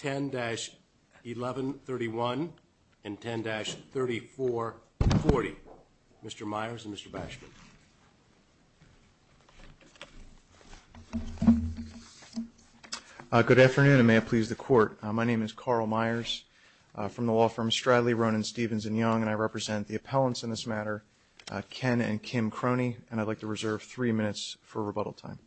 10-1131 and 10-3440. Mr. Myers and Mr. Bashford. Good afternoon, and may it please the court. My name is Carl Myers from the law firm Stradley, Ronan, Stevens & Young, and I represent the appellants in this matter, Ken and Kim Croney, and I'd like to reserve three minutes for rebuttal time.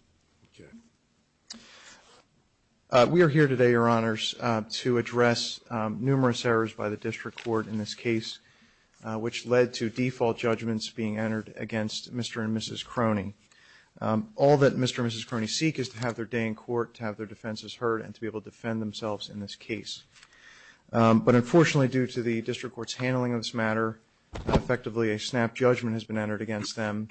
We are here today, Your Honors, to address numerous errors by the district court in this case, which led to default judgments being entered against Mr. and Mrs. Croney. All that Mr. and Mrs. Croney seek is to have their day in court, to have their defenses heard, and to be able to defend themselves in this case. But unfortunately, due to the district court's handling of this matter, effectively a snap judgment has been entered against them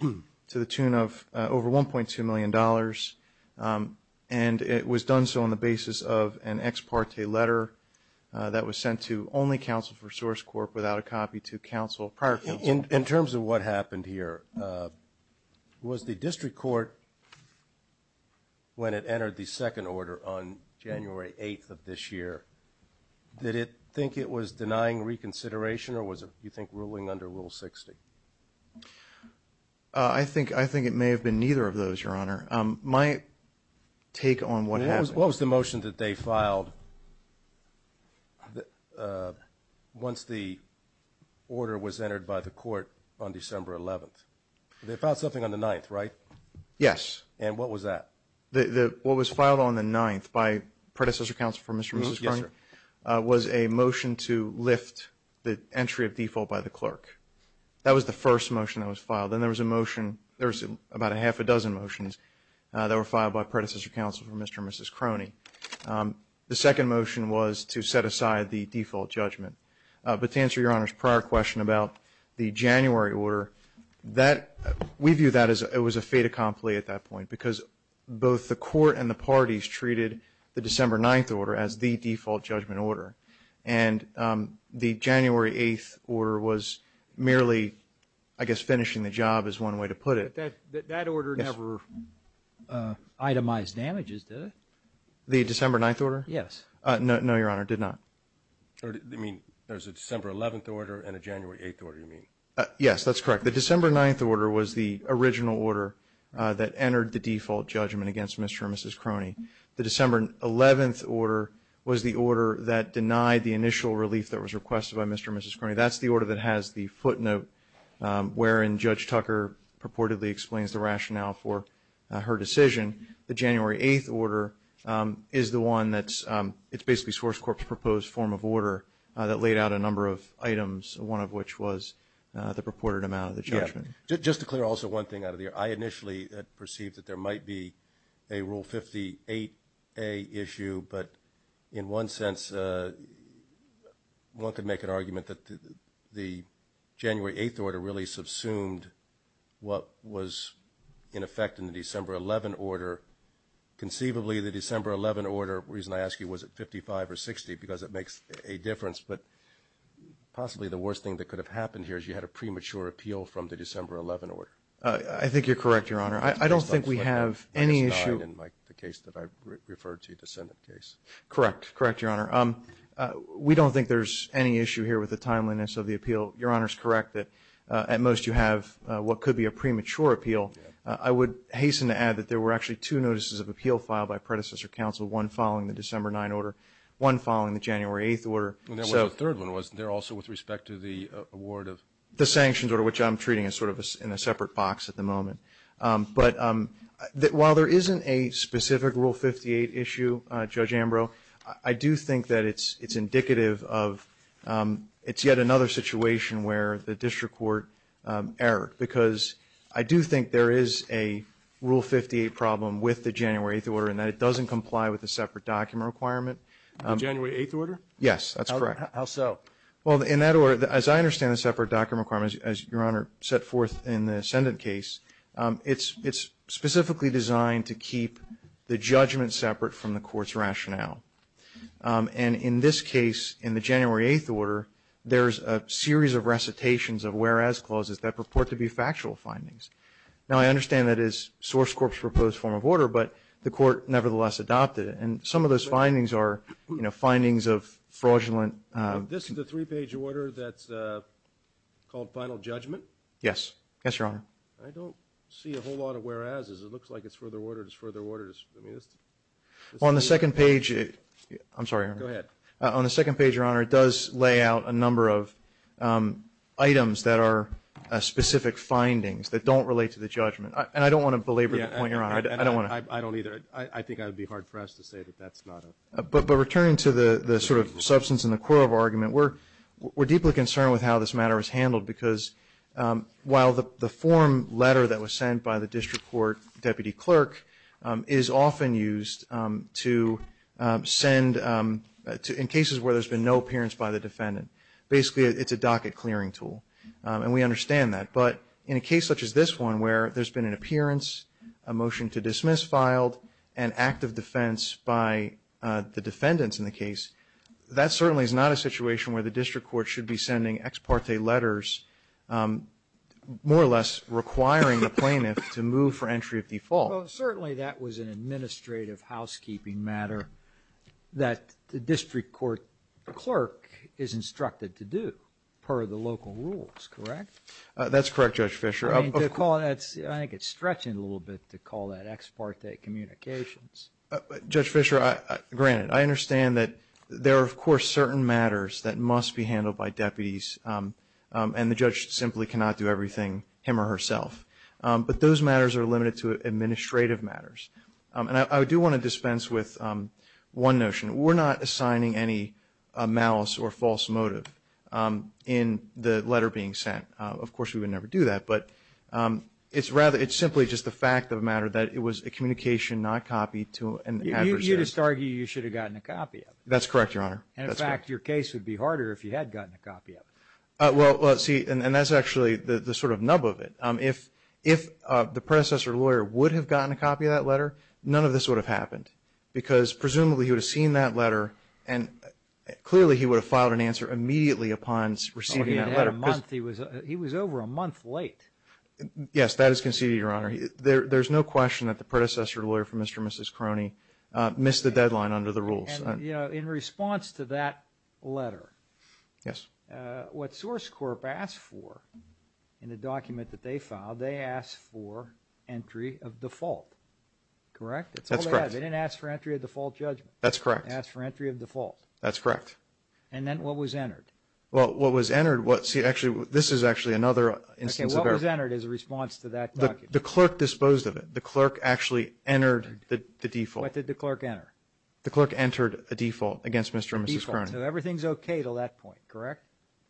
to the tune of over $1.2 million, and it was done so on the basis of an ex parte letter that was sent to only counsel for Source Corp without a copy to prior counsel. In terms of what happened here, was the district court, when it entered the second order on January 8th of this year, did it think it was denying reconsideration or was it, do you think, ruling under Rule 60? I think it may have been neither of those, Your Honor. My take on what happened. What was the motion that they filed once the order was entered by the court on December 11th? They filed something on the 9th, right? Yes. And what was that? What was filed on the 9th by predecessor counsel for Mr. and Mrs. Croney was a motion to lift the entry of default by the clerk. That was the first motion that was filed. Then there was a motion, there was about a half a dozen motions that were filed by predecessor counsel for Mr. and Mrs. Croney. The second motion was to set aside the default judgment. But to answer Your Honor's prior question about the January order, we view that as it was a fait accompli at that point because both the court and the parties treated the December 9th order as the default judgment order. And the January 8th order was merely, I guess, finishing the job is one way to put it. But that order never itemized damages, did it? The December 9th order? Yes. No, Your Honor, it did not. You mean there's a December 11th order and a January 8th order, you mean? Yes, that's correct. The December 9th order was the original order that entered the default judgment against Mr. and Mrs. Croney. The December 11th order was the order that denied the initial relief that was requested by Mr. and Mrs. Croney. That's the order that has the footnote wherein Judge Tucker purportedly explains the rationale for her decision. The January 8th order is the one that's basically Sworce Corp's proposed form of order that laid out a number of items, one of which was the purported amount of the judgment. Just to clear also one thing out of the air. I initially perceived that there might be a Rule 58A issue, but in one sense one could make an argument that the January 8th order really subsumed what was in effect in the December 11th order. Conceivably, the December 11th order, the reason I ask you, was it 55 or 60 because it makes a difference, but possibly the worst thing that could have happened here is you had a premature appeal from the December 11th order. I think you're correct, Your Honor. I don't think we have any issue. In the case that I referred to, the Senate case. Correct. Correct, Your Honor. We don't think there's any issue here with the timeliness of the appeal. Your Honor's correct that at most you have what could be a premature appeal. I would hasten to add that there were actually two notices of appeal filed by predecessor counsel, one following the December 9th order, one following the January 8th order. And there was a third one, wasn't there, also with respect to the award of? The sanctions order, which I'm treating as sort of in a separate box at the moment. But while there isn't a specific Rule 58 issue, Judge Ambrose, I do think that it's indicative of it's yet another situation where the district court erred because I do think there is a Rule 58 problem with the January 8th order and that it doesn't comply with the separate document requirement. The January 8th order? Yes, that's correct. How so? Well, in that order, as I understand the separate document requirement, as Your Honor set forth in the Ascendant case, it's specifically designed to keep the judgment separate from the court's rationale. And in this case, in the January 8th order, there's a series of recitations of whereas clauses that purport to be factual findings. Now, I understand that is Source Corp.'s proposed form of order, but the court nevertheless adopted it. And some of those findings are, you know, findings of fraudulent. This is a three-page order that's called Final Judgment? Yes. Yes, Your Honor. I don't see a whole lot of whereas's. It looks like it's further ordered. It's further ordered. On the second page, I'm sorry, Your Honor. Go ahead. On the second page, Your Honor, it does lay out a number of items that are specific findings that don't relate to the judgment. And I don't want to belabor the point, Your Honor. I don't want to. I don't either. I think it would be hard for us to say that that's not a. But returning to the sort of substance and the core of our argument, we're deeply concerned with how this matter is handled, because while the form letter that was sent by the district court deputy clerk is often used to send, in cases where there's been no appearance by the defendant, basically it's a docket clearing tool. And we understand that. But in a case such as this one where there's been an appearance, a motion to dismiss filed, an act of defense by the defendants in the case, that certainly is not a situation where the district court should be sending ex parte letters, more or less requiring the plaintiff to move for entry of default. Well, certainly that was an administrative housekeeping matter that the district court clerk is instructed to do, per the local rules, correct? That's correct, Judge Fischer. I think it's stretching a little bit to call that ex parte communications. Judge Fischer, granted, I understand that there are, of course, certain matters that must be handled by deputies, and the judge simply cannot do everything him or herself. But those matters are limited to administrative matters. And I do want to dispense with one notion. We're not assigning any malice or false motive in the letter being sent. Of course, we would never do that. But it's simply just the fact of the matter that it was a communication not copied to an adversary. You just argue you should have gotten a copy of it. That's correct, Your Honor. And, in fact, your case would be harder if you had gotten a copy of it. Well, see, and that's actually the sort of nub of it. If the predecessor lawyer would have gotten a copy of that letter, none of this would have happened because presumably he would have seen that letter, and clearly he would have filed an answer immediately upon receiving that letter. He had a month. He was over a month late. Yes, that is conceded, Your Honor. There's no question that the predecessor lawyer for Mr. and Mrs. Croney missed the deadline under the rules. And, you know, in response to that letter, what Source Corp. asked for in the document that they filed, they asked for entry of default, correct? That's correct. They didn't ask for entry of default judgment. That's correct. They asked for entry of default. That's correct. And then what was entered? Well, what was entered, see, actually, this is actually another instance of error. Okay, what was entered as a response to that document? The clerk disposed of it. The clerk actually entered the default. What did the clerk enter? The clerk entered a default against Mr. and Mrs. Croney. A default, so everything's okay to that point, correct?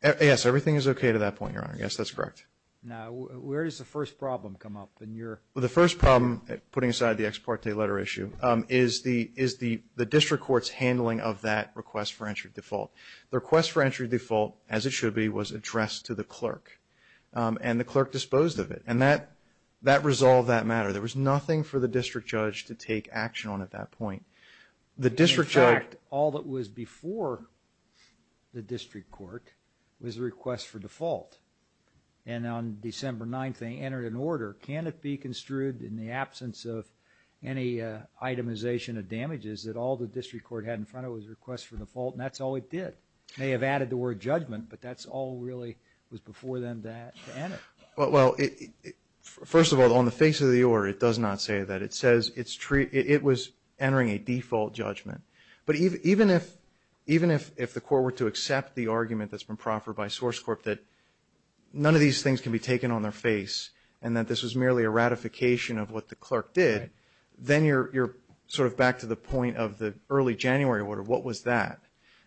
Yes, everything is okay to that point, Your Honor. Yes, that's correct. Now, where does the first problem come up in your? Well, the first problem, putting aside the ex parte letter issue, is the district court's handling of that request for entry of default. The request for entry of default, as it should be, was addressed to the clerk, and the clerk disposed of it. And that resolved that matter. There was nothing for the district judge to take action on at that point. In fact, all that was before the district court was a request for default. And on December 9th, they entered an order. Can it be construed in the absence of any itemization of damages that all the district court had in front of it was a request for default, and that's all it did? May have added the word judgment, but that all really was before then to enter. Well, first of all, on the face of the order, it does not say that. It says it was entering a default judgment. But even if the court were to accept the argument that's been proffered by SourceCorp that none of these things can be taken on their face and that this was merely a ratification of what the clerk did, then you're sort of back to the point of the early January order. What was that?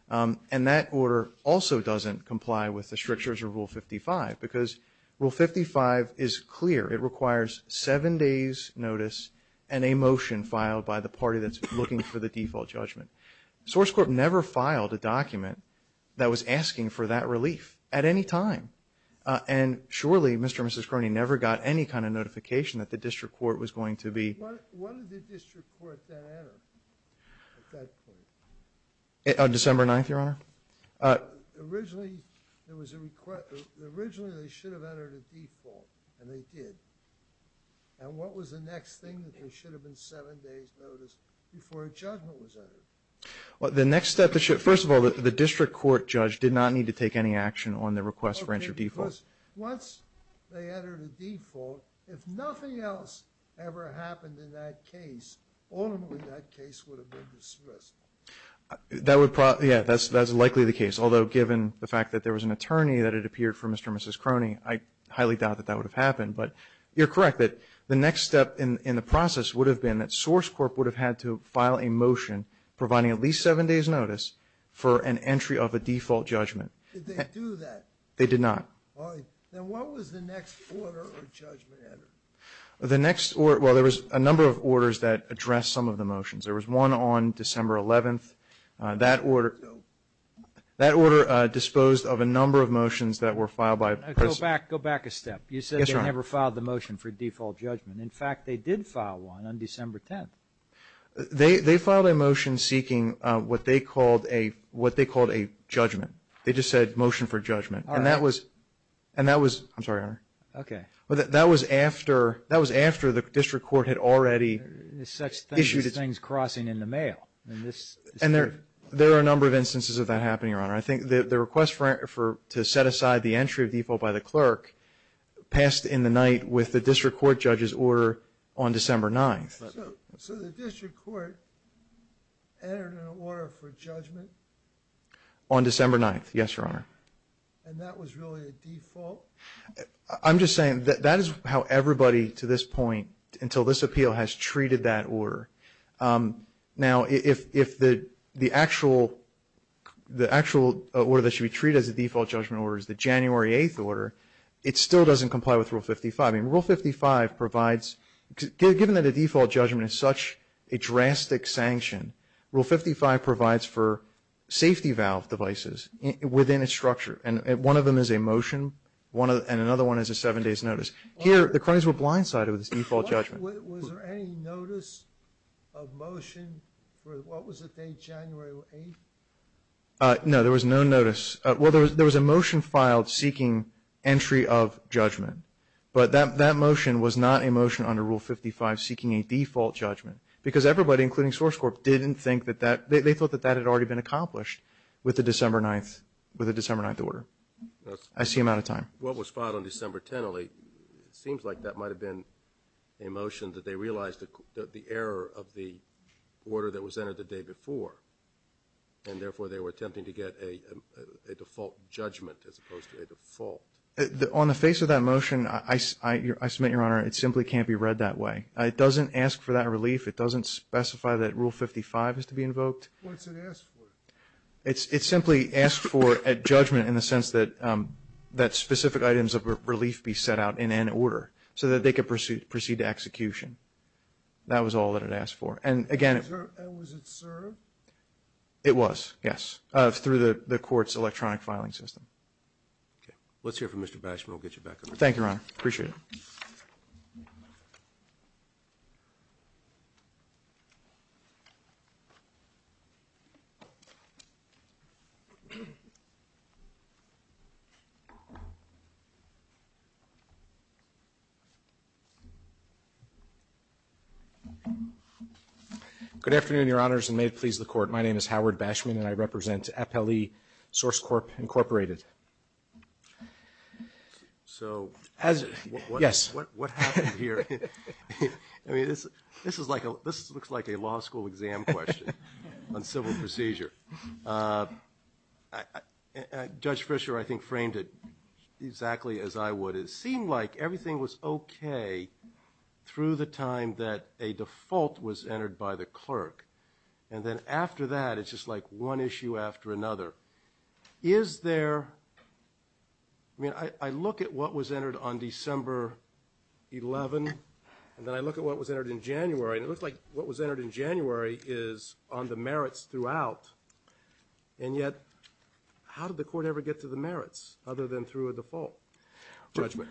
And that order also doesn't comply with the strictures of Rule 55 because Rule 55 is clear. It requires seven days' notice and a motion filed by the party that's looking for the default judgment. SourceCorp never filed a document that was asking for that relief at any time. And surely Mr. and Mrs. Cronin never got any kind of notification that the district court was going to be. When did the district court then enter at that point? On December 9th, Your Honor. Originally, there was a request. Originally, they should have entered a default, and they did. And what was the next thing that there should have been seven days' notice before a judgment was entered? Well, the next step, first of all, the district court judge did not need to take any action on the request for entry default. Okay, because once they entered a default, if nothing else ever happened in that case, ultimately that case would have been dismissed. Yeah, that's likely the case, although given the fact that there was an attorney that had appeared for Mr. and Mrs. Cronin, I highly doubt that that would have happened. But you're correct that the next step in the process would have been that SourceCorp would have had to file a motion providing at least seven days' notice for an entry of a default judgment. Did they do that? They did not. All right. Then what was the next order or judgment entered? The next order, well, there was a number of orders that addressed some of the motions. There was one on December 11th. That order disposed of a number of motions that were filed by a person. Go back a step. Yes, Your Honor. You said they never filed the motion for default judgment. In fact, they did file one on December 10th. They filed a motion seeking what they called a judgment. They just said motion for judgment. All right. And that was – I'm sorry, Your Honor. Okay. That was after the district court had already issued – There's such things as things crossing in the mail. And there are a number of instances of that happening, Your Honor. I think the request to set aside the entry of default by the clerk passed in the night with the district court judge's order on December 9th. So the district court entered an order for judgment? On December 9th, yes, Your Honor. And that was really a default? I'm just saying that is how everybody, to this point, until this appeal, has treated that order. Now, if the actual order that should be treated as a default judgment order is the January 8th order, it still doesn't comply with Rule 55. I mean, Rule 55 provides – given that a default judgment is such a drastic sanction, Rule 55 provides for safety valve devices within a structure. And one of them is a motion, and another one is a seven-days notice. Here, the cronies were blindsided with this default judgment. Was there any notice of motion for what was the date, January 8th? No, there was no notice. Well, there was a motion filed seeking entry of judgment. But that motion was not a motion under Rule 55 seeking a default judgment because everybody, including Source Corp., didn't think that that – I see I'm out of time. What was filed on December 10th, it seems like that might have been a motion that they realized the error of the order that was entered the day before, and therefore they were attempting to get a default judgment as opposed to a default. On the face of that motion, I submit, Your Honor, it simply can't be read that way. It doesn't ask for that relief. It doesn't specify that Rule 55 is to be invoked. What's it ask for? It simply asks for a judgment in the sense that specific items of relief be set out in an order so that they could proceed to execution. That was all that it asked for. And, again, it – And was it served? It was, yes, through the court's electronic filing system. Okay. Let's hear from Mr. Bashmore. We'll get you back on. Thank you, Your Honor. Appreciate it. Good afternoon, Your Honors, and may it please the Court. My name is Howard Bashmore, and I represent Appellee Source Corp, Incorporated. So as – Yes. What happened here? I mean, this is like a – this looks like a law school exam question on civil procedure. Judge Fischer, I think, framed it exactly as I would. It seemed like everything was okay through the time that a default was entered by the clerk. And then after that, it's just like one issue after another. Is there – I mean, I look at what was entered on December 11, and then I look at what was entered in January, and it looks like what was entered in January is on the merits throughout. And yet, how did the court ever get to the merits other than through a default judgment?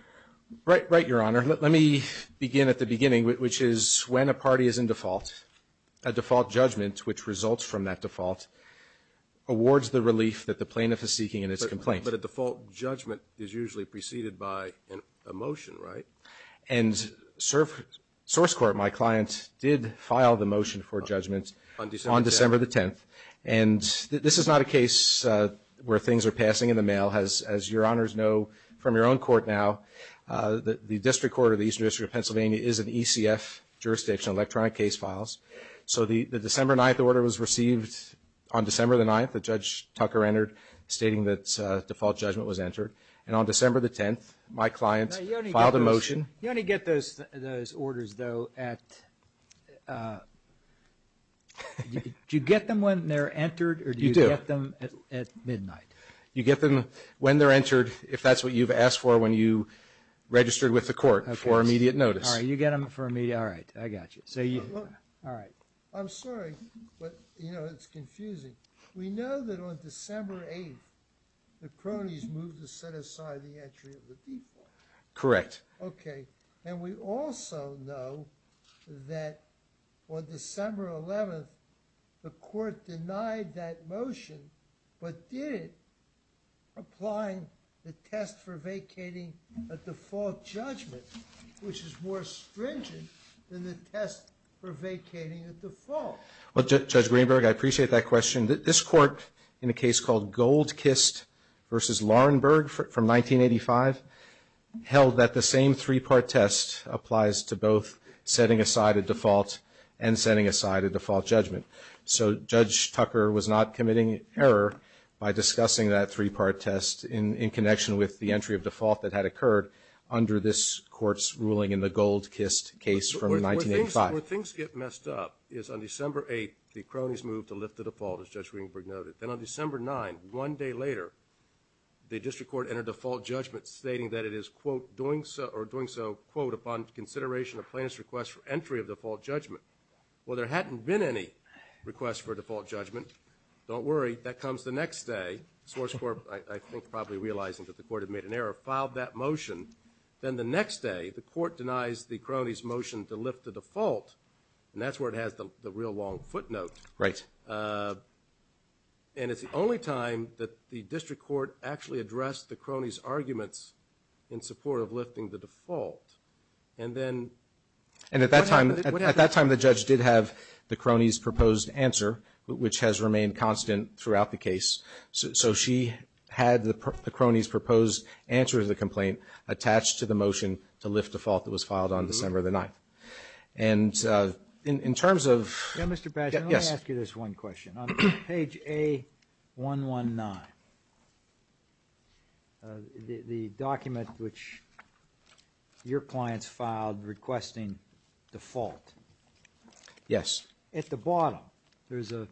Right, Your Honor. Let me begin at the beginning, which is when a party is in default, a default judgment, which results from that default, awards the relief that the plaintiff is seeking in its complaint. But a default judgment is usually preceded by a motion, right? And Source Corp, my client, did file the motion for judgment on December the 10th. And this is not a case where things are passing in the mail. As Your Honors know from your own court now, the District Court of the Eastern District of Pennsylvania is an ECF jurisdiction, electronic case files. So the December 9th order was received on December the 9th that Judge Tucker entered, stating that default judgment was entered. And on December the 10th, my client filed a motion. You only get those orders, though, at – do you get them when they're entered? You do. Or do you get them at midnight? You get them when they're entered, if that's what you've asked for when you registered with the court for immediate notice. All right, you get them for immediate – all right, I got you. So you – all right. I'm sorry, but, you know, it's confusing. We know that on December 8th, the cronies moved to set aside the entry of the default. Correct. Okay, and we also know that on December 11th, the court denied that motion but did it applying the test for vacating a default judgment, which is more stringent than the test for vacating a default. Well, Judge Greenberg, I appreciate that question. This court, in a case called Goldkist v. Lahrenberg from 1985, held that the same three-part test applies to both setting aside a default and setting aside a default judgment. So Judge Tucker was not committing error by discussing that three-part test in connection with the entry of default that had occurred under this court's ruling in the Goldkist case from 1985. Where things get messed up is on December 8th, the cronies moved to lift the default, as Judge Greenberg noted. Then on December 9th, one day later, the district court entered a default judgment stating that it is, quote, doing so – or doing so, quote, upon consideration of plaintiff's request for entry of default judgment. Well, there hadn't been any request for a default judgment. Don't worry. That comes the next day. The source court, I think probably realizing that the court had made an error, filed that motion. Then the next day, the court denies the cronies' motion to lift the default, and that's where it has the real long footnote. Right. And it's the only time that the district court actually addressed the cronies' arguments in support of lifting the default. And then – And at that time, the judge did have the cronies' proposed answer, which has remained constant throughout the case. So she had the cronies' proposed answer to the complaint attached to the motion to lift default that was filed on December 9th. And in terms of – Now, Mr. Pash, let me ask you this one question. On page A119, the document which your clients filed requesting default. Yes. At the bottom, there's an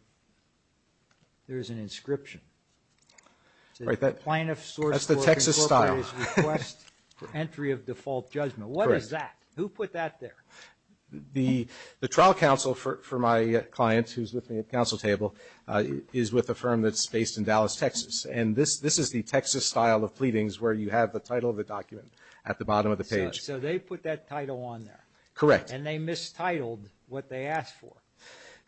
inscription. Right. That's the Texas style. That's the plaintiff's source court's request for entry of default judgment. Correct. What is that? Who put that there? The trial counsel for my client, who's with me at the counsel table, is with a firm that's based in Dallas, Texas. And this is the Texas style of pleadings where you have the title of the document at the bottom of the page. So they put that title on there. Correct. And they mistitled what they asked for.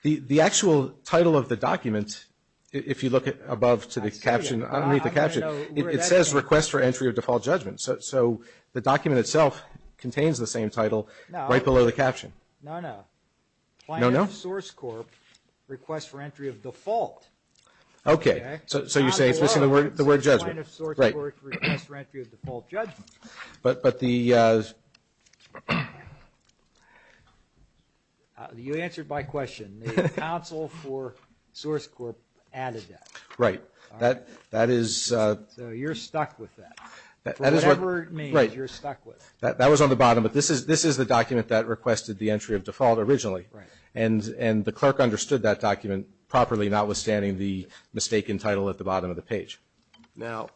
The actual title of the document, if you look above to the caption, underneath the caption, it says request for entry of default judgment. So the document itself contains the same title right below the caption. No, no. No, no? Plaintiff's source court request for entry of default. Okay. So you're saying it's missing the word judgment. Right. The plaintiff's source court request for entry of default judgment. But the ‑‑ You answered my question. The counsel for source court added that. Right. That is ‑‑ So you're stuck with that. For whatever it means, you're stuck with it. Right. That was on the bottom, but this is the document that requested the entry of default originally. Right. And the clerk understood that document properly, notwithstanding the mistaken title at the bottom of the page. Now,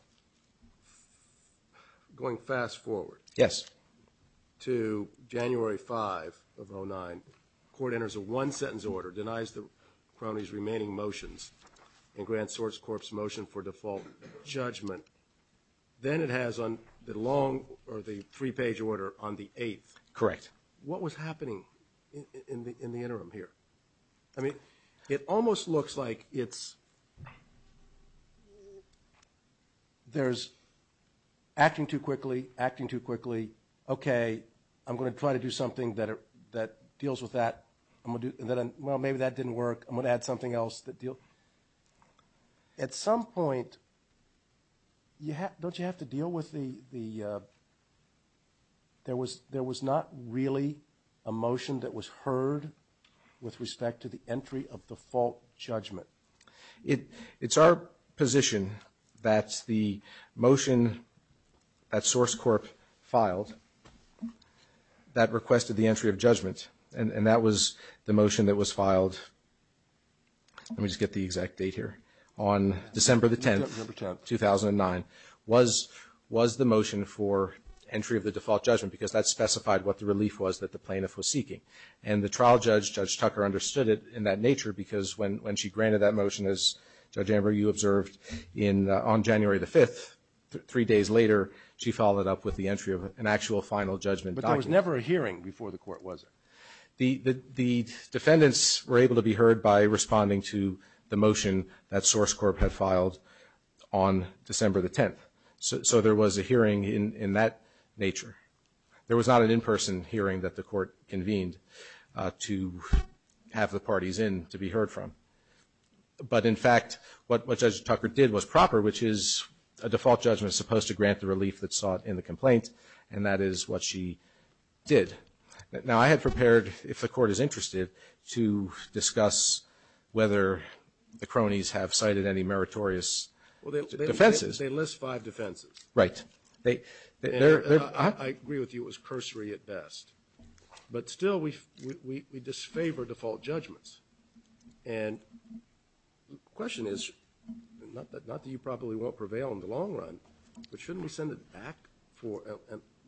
going fast forward. Yes. To January 5 of 09, court enters a one‑sentence order, denies the crony's remaining motions, and grants source court's motion for default judgment. Then it has on the long or the three‑page order on the 8th. Correct. What was happening in the interim here? I mean, it almost looks like it's ‑‑ there's acting too quickly, acting too quickly. Okay. I'm going to try to do something that deals with that. Well, maybe that didn't work. I'm going to add something else. At some point, don't you have to deal with the ‑‑ there was not really a motion that was heard with respect to the entry of default judgment? It's our position that the motion that source court filed that requested the entry of judgment, and that was the motion that was filed, let me just get the exact date here, on December 10, 2009, was the motion for entry of the default judgment because that specified what the relief was that the plaintiff was seeking. And the trial judge, Judge Tucker, understood it in that nature because when she granted that motion, as Judge Amber, you observed, on January the 5th, three days later, she followed up with the entry of an actual final judgment document. But there was never a hearing before the court, was there? The defendants were able to be heard by responding to the motion that source court had filed on December the 10th. So there was a hearing in that nature. There was not an in‑person hearing that the court convened to have the parties in to be heard from. But, in fact, what Judge Tucker did was proper, which is a default judgment is supposed to grant the relief that's sought in the complaint, and that is what she did. Now, I had prepared, if the court is interested, to discuss whether the cronies have cited any meritorious defenses. Well, they list five defenses. Right. I agree with you, it was cursory at best. But, still, we disfavor default judgments. And the question is, not that you probably won't prevail in the long run, but shouldn't we send it back and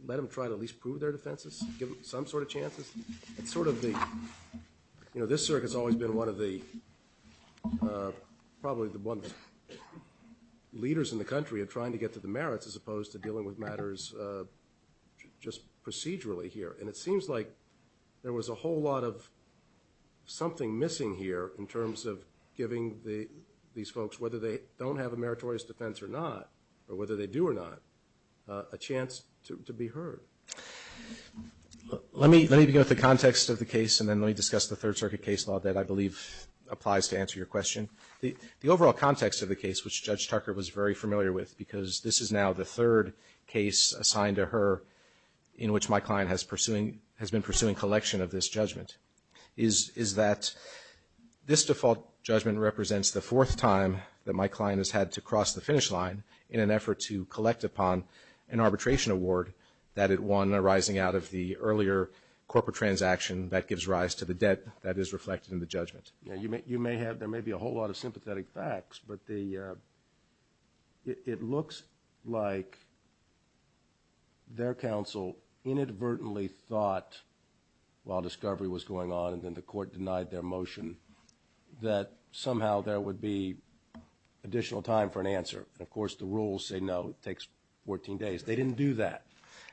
let them try to at least prove their defenses, give them some sort of chances? It's sort of the, you know, this circuit's always been one of the, leaders in the country are trying to get to the merits, as opposed to dealing with matters just procedurally here. And it seems like there was a whole lot of something missing here in terms of giving these folks, whether they don't have a meritorious defense or not, or whether they do or not, a chance to be heard. Let me begin with the context of the case, and then let me discuss the Third Circuit case law that I believe applies to answer your question. The overall context of the case, which Judge Tucker was very familiar with, because this is now the third case assigned to her, in which my client has been pursuing collection of this judgment, is that this default judgment represents the fourth time that my client has had to cross the finish line in an effort to collect upon an arbitration award that it won arising out of the earlier corporate transaction that gives rise to the debt that is reflected in the judgment. You may have, there may be a whole lot of sympathetic facts, but it looks like their counsel inadvertently thought while discovery was going on and then the court denied their motion that somehow there would be additional time for an answer. And, of course, the rules say no. It takes 14 days. They didn't do that.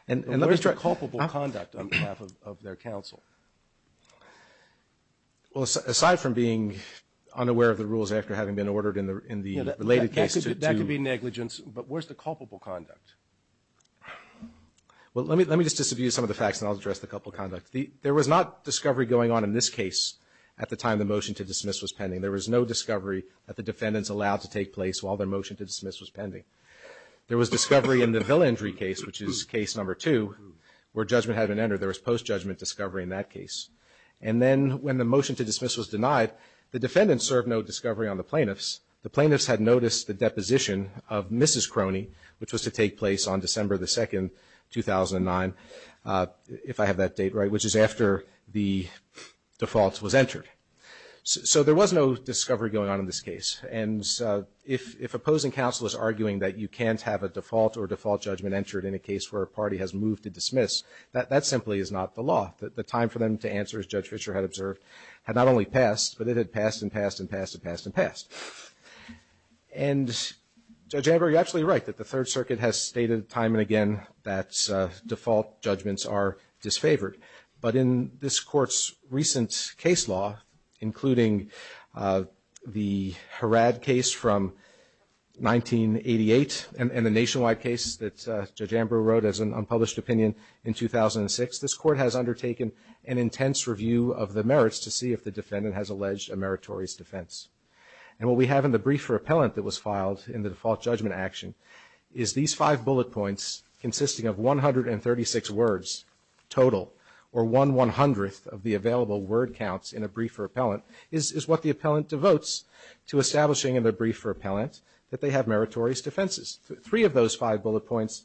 And where's the culpable conduct on behalf of their counsel? Well, aside from being unaware of the rules after having been ordered in the related case to That could be negligence. But where's the culpable conduct? Well, let me just disabuse some of the facts and I'll address the culpable conduct. There was not discovery going on in this case at the time the motion to dismiss was pending. There was no discovery that the defendants allowed to take place while their motion to dismiss was pending. There was discovery in the Villa Injury case, which is case number two, where judgment hadn't entered. There was post-judgment discovery in that case. And then when the motion to dismiss was denied, the defendants served no discovery on the plaintiffs. The plaintiffs had noticed the deposition of Mrs. Crony, which was to take place on December 2, 2009, if I have that date right, which is after the default was entered. So there was no discovery going on in this case. And if opposing counsel is arguing that you can't have a default or default judgment entered in a case where a party has moved to dismiss, that simply is not the law. The time for them to answer, as Judge Fischer had observed, had not only passed, but it had passed and passed and passed and passed and passed. And, Judge Amber, you're absolutely right that the Third Circuit has stated time and again that default judgments are disfavored. But in this Court's recent case law, including the Harad case from 1988 and the nationwide case that Judge Amber wrote as an unpublished opinion in 2006, this Court has undertaken an intense review of the merits to see if the defendant has alleged a meritorious defense. And what we have in the brief repellent that was filed in the default judgment action is these five bullet points, consisting of 136 words total, or one one-hundredth of the available word counts in a brief repellent, is what the repellent devotes to establishing in the brief repellent that they have meritorious defenses. Three of those five bullet points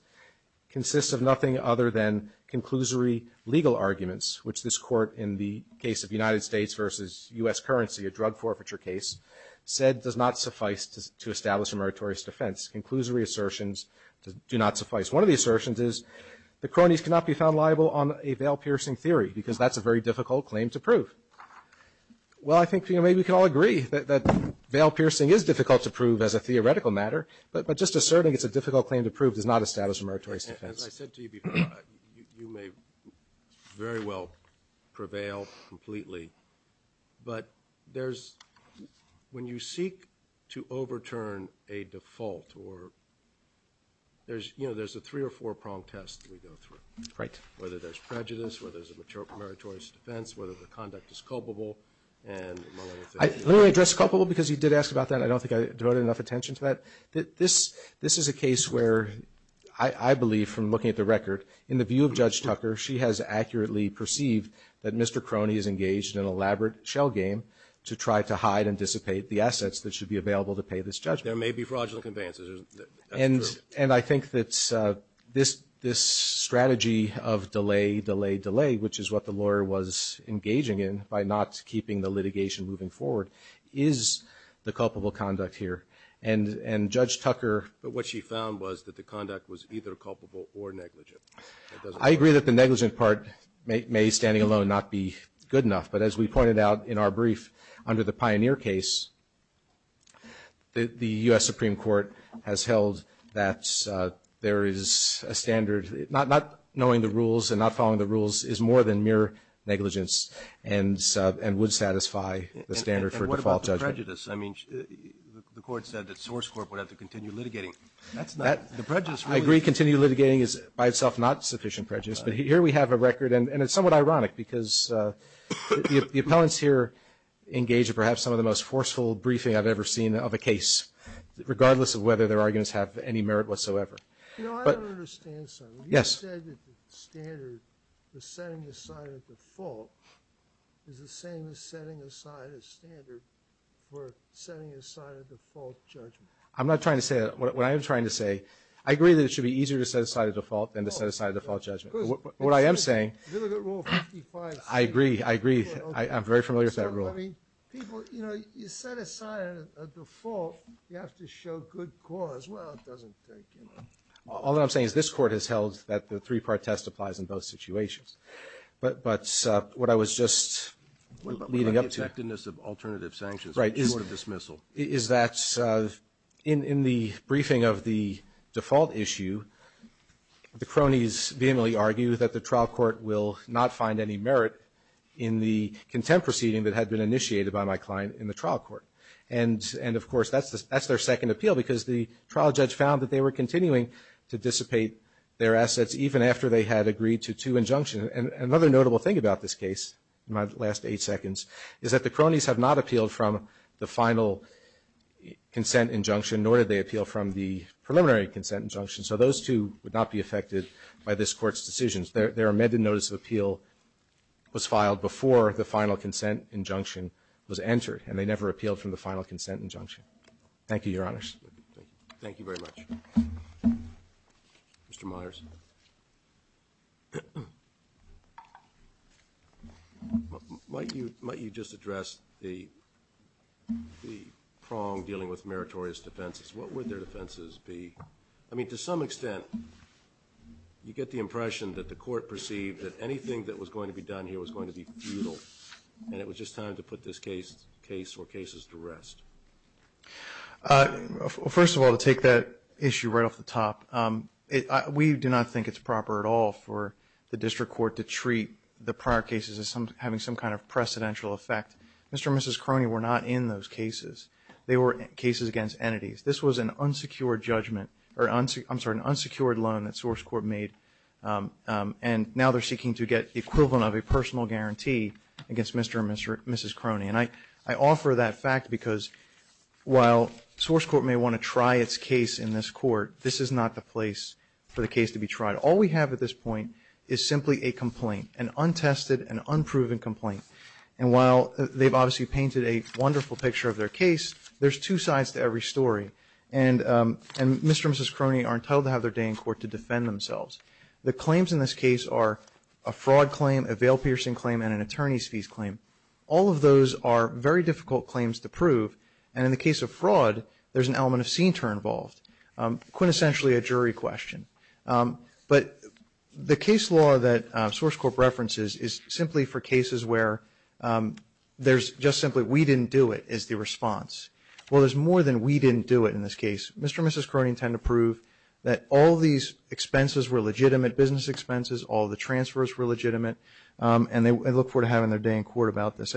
consist of nothing other than conclusory legal arguments, which this Court in the case of United States versus U.S. currency, a drug forfeiture case, said does not suffice to establish a meritorious defense. Conclusory assertions do not suffice. One of the assertions is the cronies cannot be found liable on a veil-piercing theory, because that's a very difficult claim to prove. Well, I think, you know, maybe we can all agree that veil-piercing is difficult to prove as a theoretical matter, but just asserting it's a difficult claim to prove does not establish a meritorious defense. As I said to you before, you may very well prevail completely, but there's – when you seek to overturn a default or – there's, you know, there's a three or four-prong test that we go through. Right. Whether there's prejudice, whether there's a meritorious defense, whether the conduct is culpable. I literally addressed culpable because you did ask about that. I don't think I devoted enough attention to that. This is a case where I believe, from looking at the record, in the view of Judge Tucker, she has accurately perceived that Mr. Crony is engaged in an elaborate shell game to try to hide and dissipate the assets that should be available to pay this judgment. There may be fraudulent advances. And I think that this strategy of delay, delay, delay, which is what the lawyer was engaging in by not keeping the litigation moving forward, is the culpable conduct here. And Judge Tucker – But what she found was that the conduct was either culpable or negligent. I agree that the negligent part may, standing alone, not be good enough. But as we pointed out in our brief under the Pioneer case, the U.S. Supreme Court has held that there is a standard – not knowing the rules and not following the rules is more than mere negligence and would satisfy the standard for default judgment. And what about the prejudice? I mean, the Court said that Source Corp would have to continue litigating. That's not – The prejudice really – I agree. Continued litigating is, by itself, not sufficient prejudice. But here we have a record, and it's somewhat ironic, because the appellants here engage in perhaps some of the most forceful briefing I've ever seen of a case, regardless of whether their arguments have any merit whatsoever. You know, I don't understand something. Yes. You said that the standard for setting aside a default is the same as setting aside a standard for setting aside a default judgment. I'm not trying to say that. What I am trying to say – I agree that it should be easier to set aside a default than to set aside a default judgment. What I am saying – Look at Rule 55. I agree. I agree. I'm very familiar with that rule. I mean, people – you know, you set aside a default, you have to show good cause. Well, it doesn't take any – all I'm saying is this Court has held that the three-part test applies in both situations. But what I was just leading up to – What about the effectiveness of alternative sanctions? Right. Court of dismissal. Is that in the briefing of the default issue, the cronies vehemently argue that the trial court will not find any merit in the contempt proceeding that had been initiated by my client in the trial court. And, of course, that's their second appeal, because the trial judge found that they were continuing to dissipate their assets even after they had agreed to two injunctions. And another notable thing about this case in my last eight seconds is that the cronies have not appealed from the final consent injunction, nor did they appeal from the preliminary consent injunction. So those two would not be affected by this Court's decisions. Their amended notice of appeal was filed before the final consent injunction was entered, and they never appealed from the final consent injunction. Thank you, Your Honors. Thank you. Thank you very much. Mr. Myers. Might you just address the prong dealing with meritorious defenses? What would their defenses be? I mean, to some extent, you get the impression that the Court perceived that anything that was going to be done here was going to be futile, and it was just time to put this case or cases to rest. First of all, to take that issue right off the top, we do not think it's proper at all for the district court to treat the prior cases as having some kind of precedential effect. Mr. and Mrs. Crony were not in those cases. They were cases against entities. This was an unsecured judgment or, I'm sorry, an unsecured loan that Source Court made, and now they're seeking to get the equivalent of a personal guarantee against Mr. and Mrs. Crony. And I offer that fact because while Source Court may want to try its case in this court, this is not the place for the case to be tried. All we have at this point is simply a complaint, an untested and unproven complaint. And while they've obviously painted a wonderful picture of their case, there's two sides to every story, and Mr. and Mrs. Crony are entitled to have their day in court to defend themselves. The claims in this case are a fraud claim, a veil-piercing claim, and an attorney's fees claim. All of those are very difficult claims to prove, and in the case of fraud there's an element of scene turn involved, quintessentially a jury question. But the case law that Source Court references is simply for cases where there's just simply, we didn't do it, is the response. Well, there's more than we didn't do it in this case. Mr. and Mrs. Crony intend to prove that all these expenses were legitimate, business expenses, all the transfers were legitimate, and they look forward to having their day in court about this.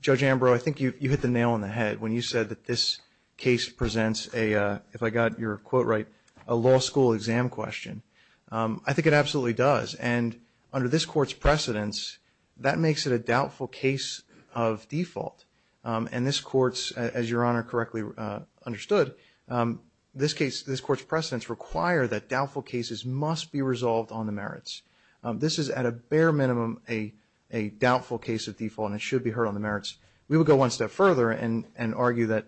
Judge Ambrose, I think you hit the nail on the head when you said that this case presents a, if I got your quote right, a law school exam question. I think it absolutely does. And under this court's precedence, that makes it a doubtful case of default. And this court's, as Your Honor correctly understood, this court's precedence require that doubtful cases must be resolved on the merits. This is at a bare minimum a doubtful case of default, and it should be heard on the merits. We would go one step further and argue that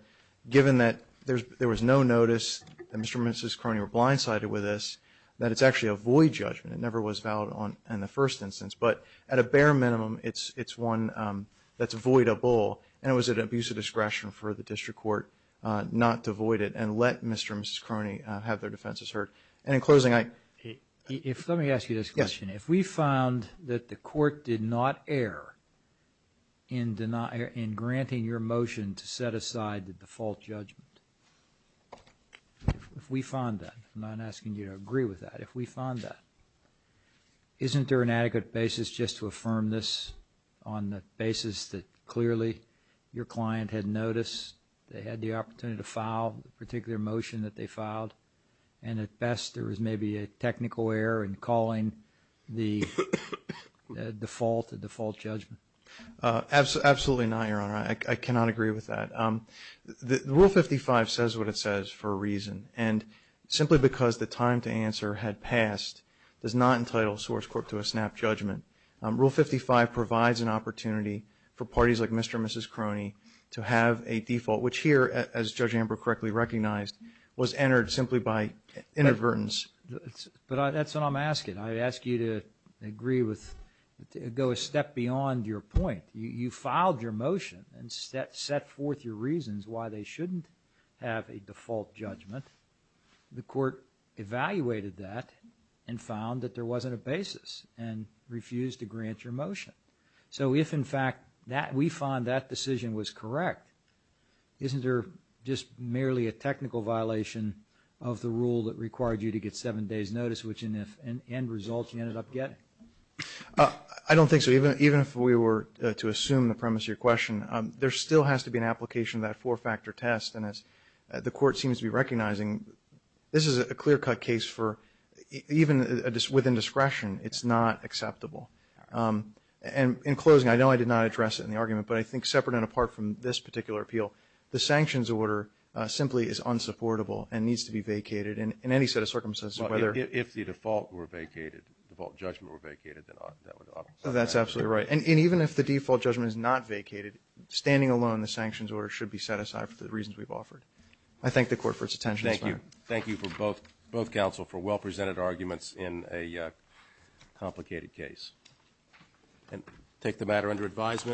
given that there was no notice, that Mr. and Mrs. Crony were blindsided with this, that it's actually a void judgment. It never was valid in the first instance. But at a bare minimum, it's one that's voidable, and it was an abuse of discretion for the district court not to void it and let Mr. and Mrs. Crony have their defenses heard. And in closing, I – Let me ask you this question. If we found that the court did not err in granting your motion to set aside the default judgment, if we found that, I'm not asking you to agree with that, but if we found that, isn't there an adequate basis just to affirm this on the basis that clearly your client had noticed they had the opportunity to file the particular motion that they filed, and at best there was maybe a technical error in calling the default a default judgment? Absolutely not, Your Honor. I cannot agree with that. Rule 55 says what it says for a reason. And simply because the time to answer had passed does not entitle a source court to a snap judgment. Rule 55 provides an opportunity for parties like Mr. and Mrs. Crony to have a default, which here, as Judge Amber correctly recognized, was entered simply by inadvertence. But that's what I'm asking. I'd ask you to agree with – go a step beyond your point. You filed your motion and set forth your reasons why they shouldn't have a default judgment. The court evaluated that and found that there wasn't a basis and refused to grant your motion. So if, in fact, we found that decision was correct, isn't there just merely a technical violation of the rule that required you to get seven days' notice, which in the end result you ended up getting? I don't think so. Even if we were to assume the premise of your question, there still has to be an application of that four-factor test. And as the court seems to be recognizing, this is a clear-cut case for – even within discretion, it's not acceptable. And in closing, I know I did not address it in the argument, but I think separate and apart from this particular appeal, the sanctions order simply is unsupportable and needs to be vacated in any set of circumstances. Well, if the default were vacated, default judgment were vacated, then that would – That's absolutely right. And even if the default judgment is not vacated, standing alone the sanctions order should be set aside for the reasons we've offered. I thank the court for its attention. Thank you. Thank you for both – both counsel for well-presented arguments in a complicated case. And take the matter under advisement.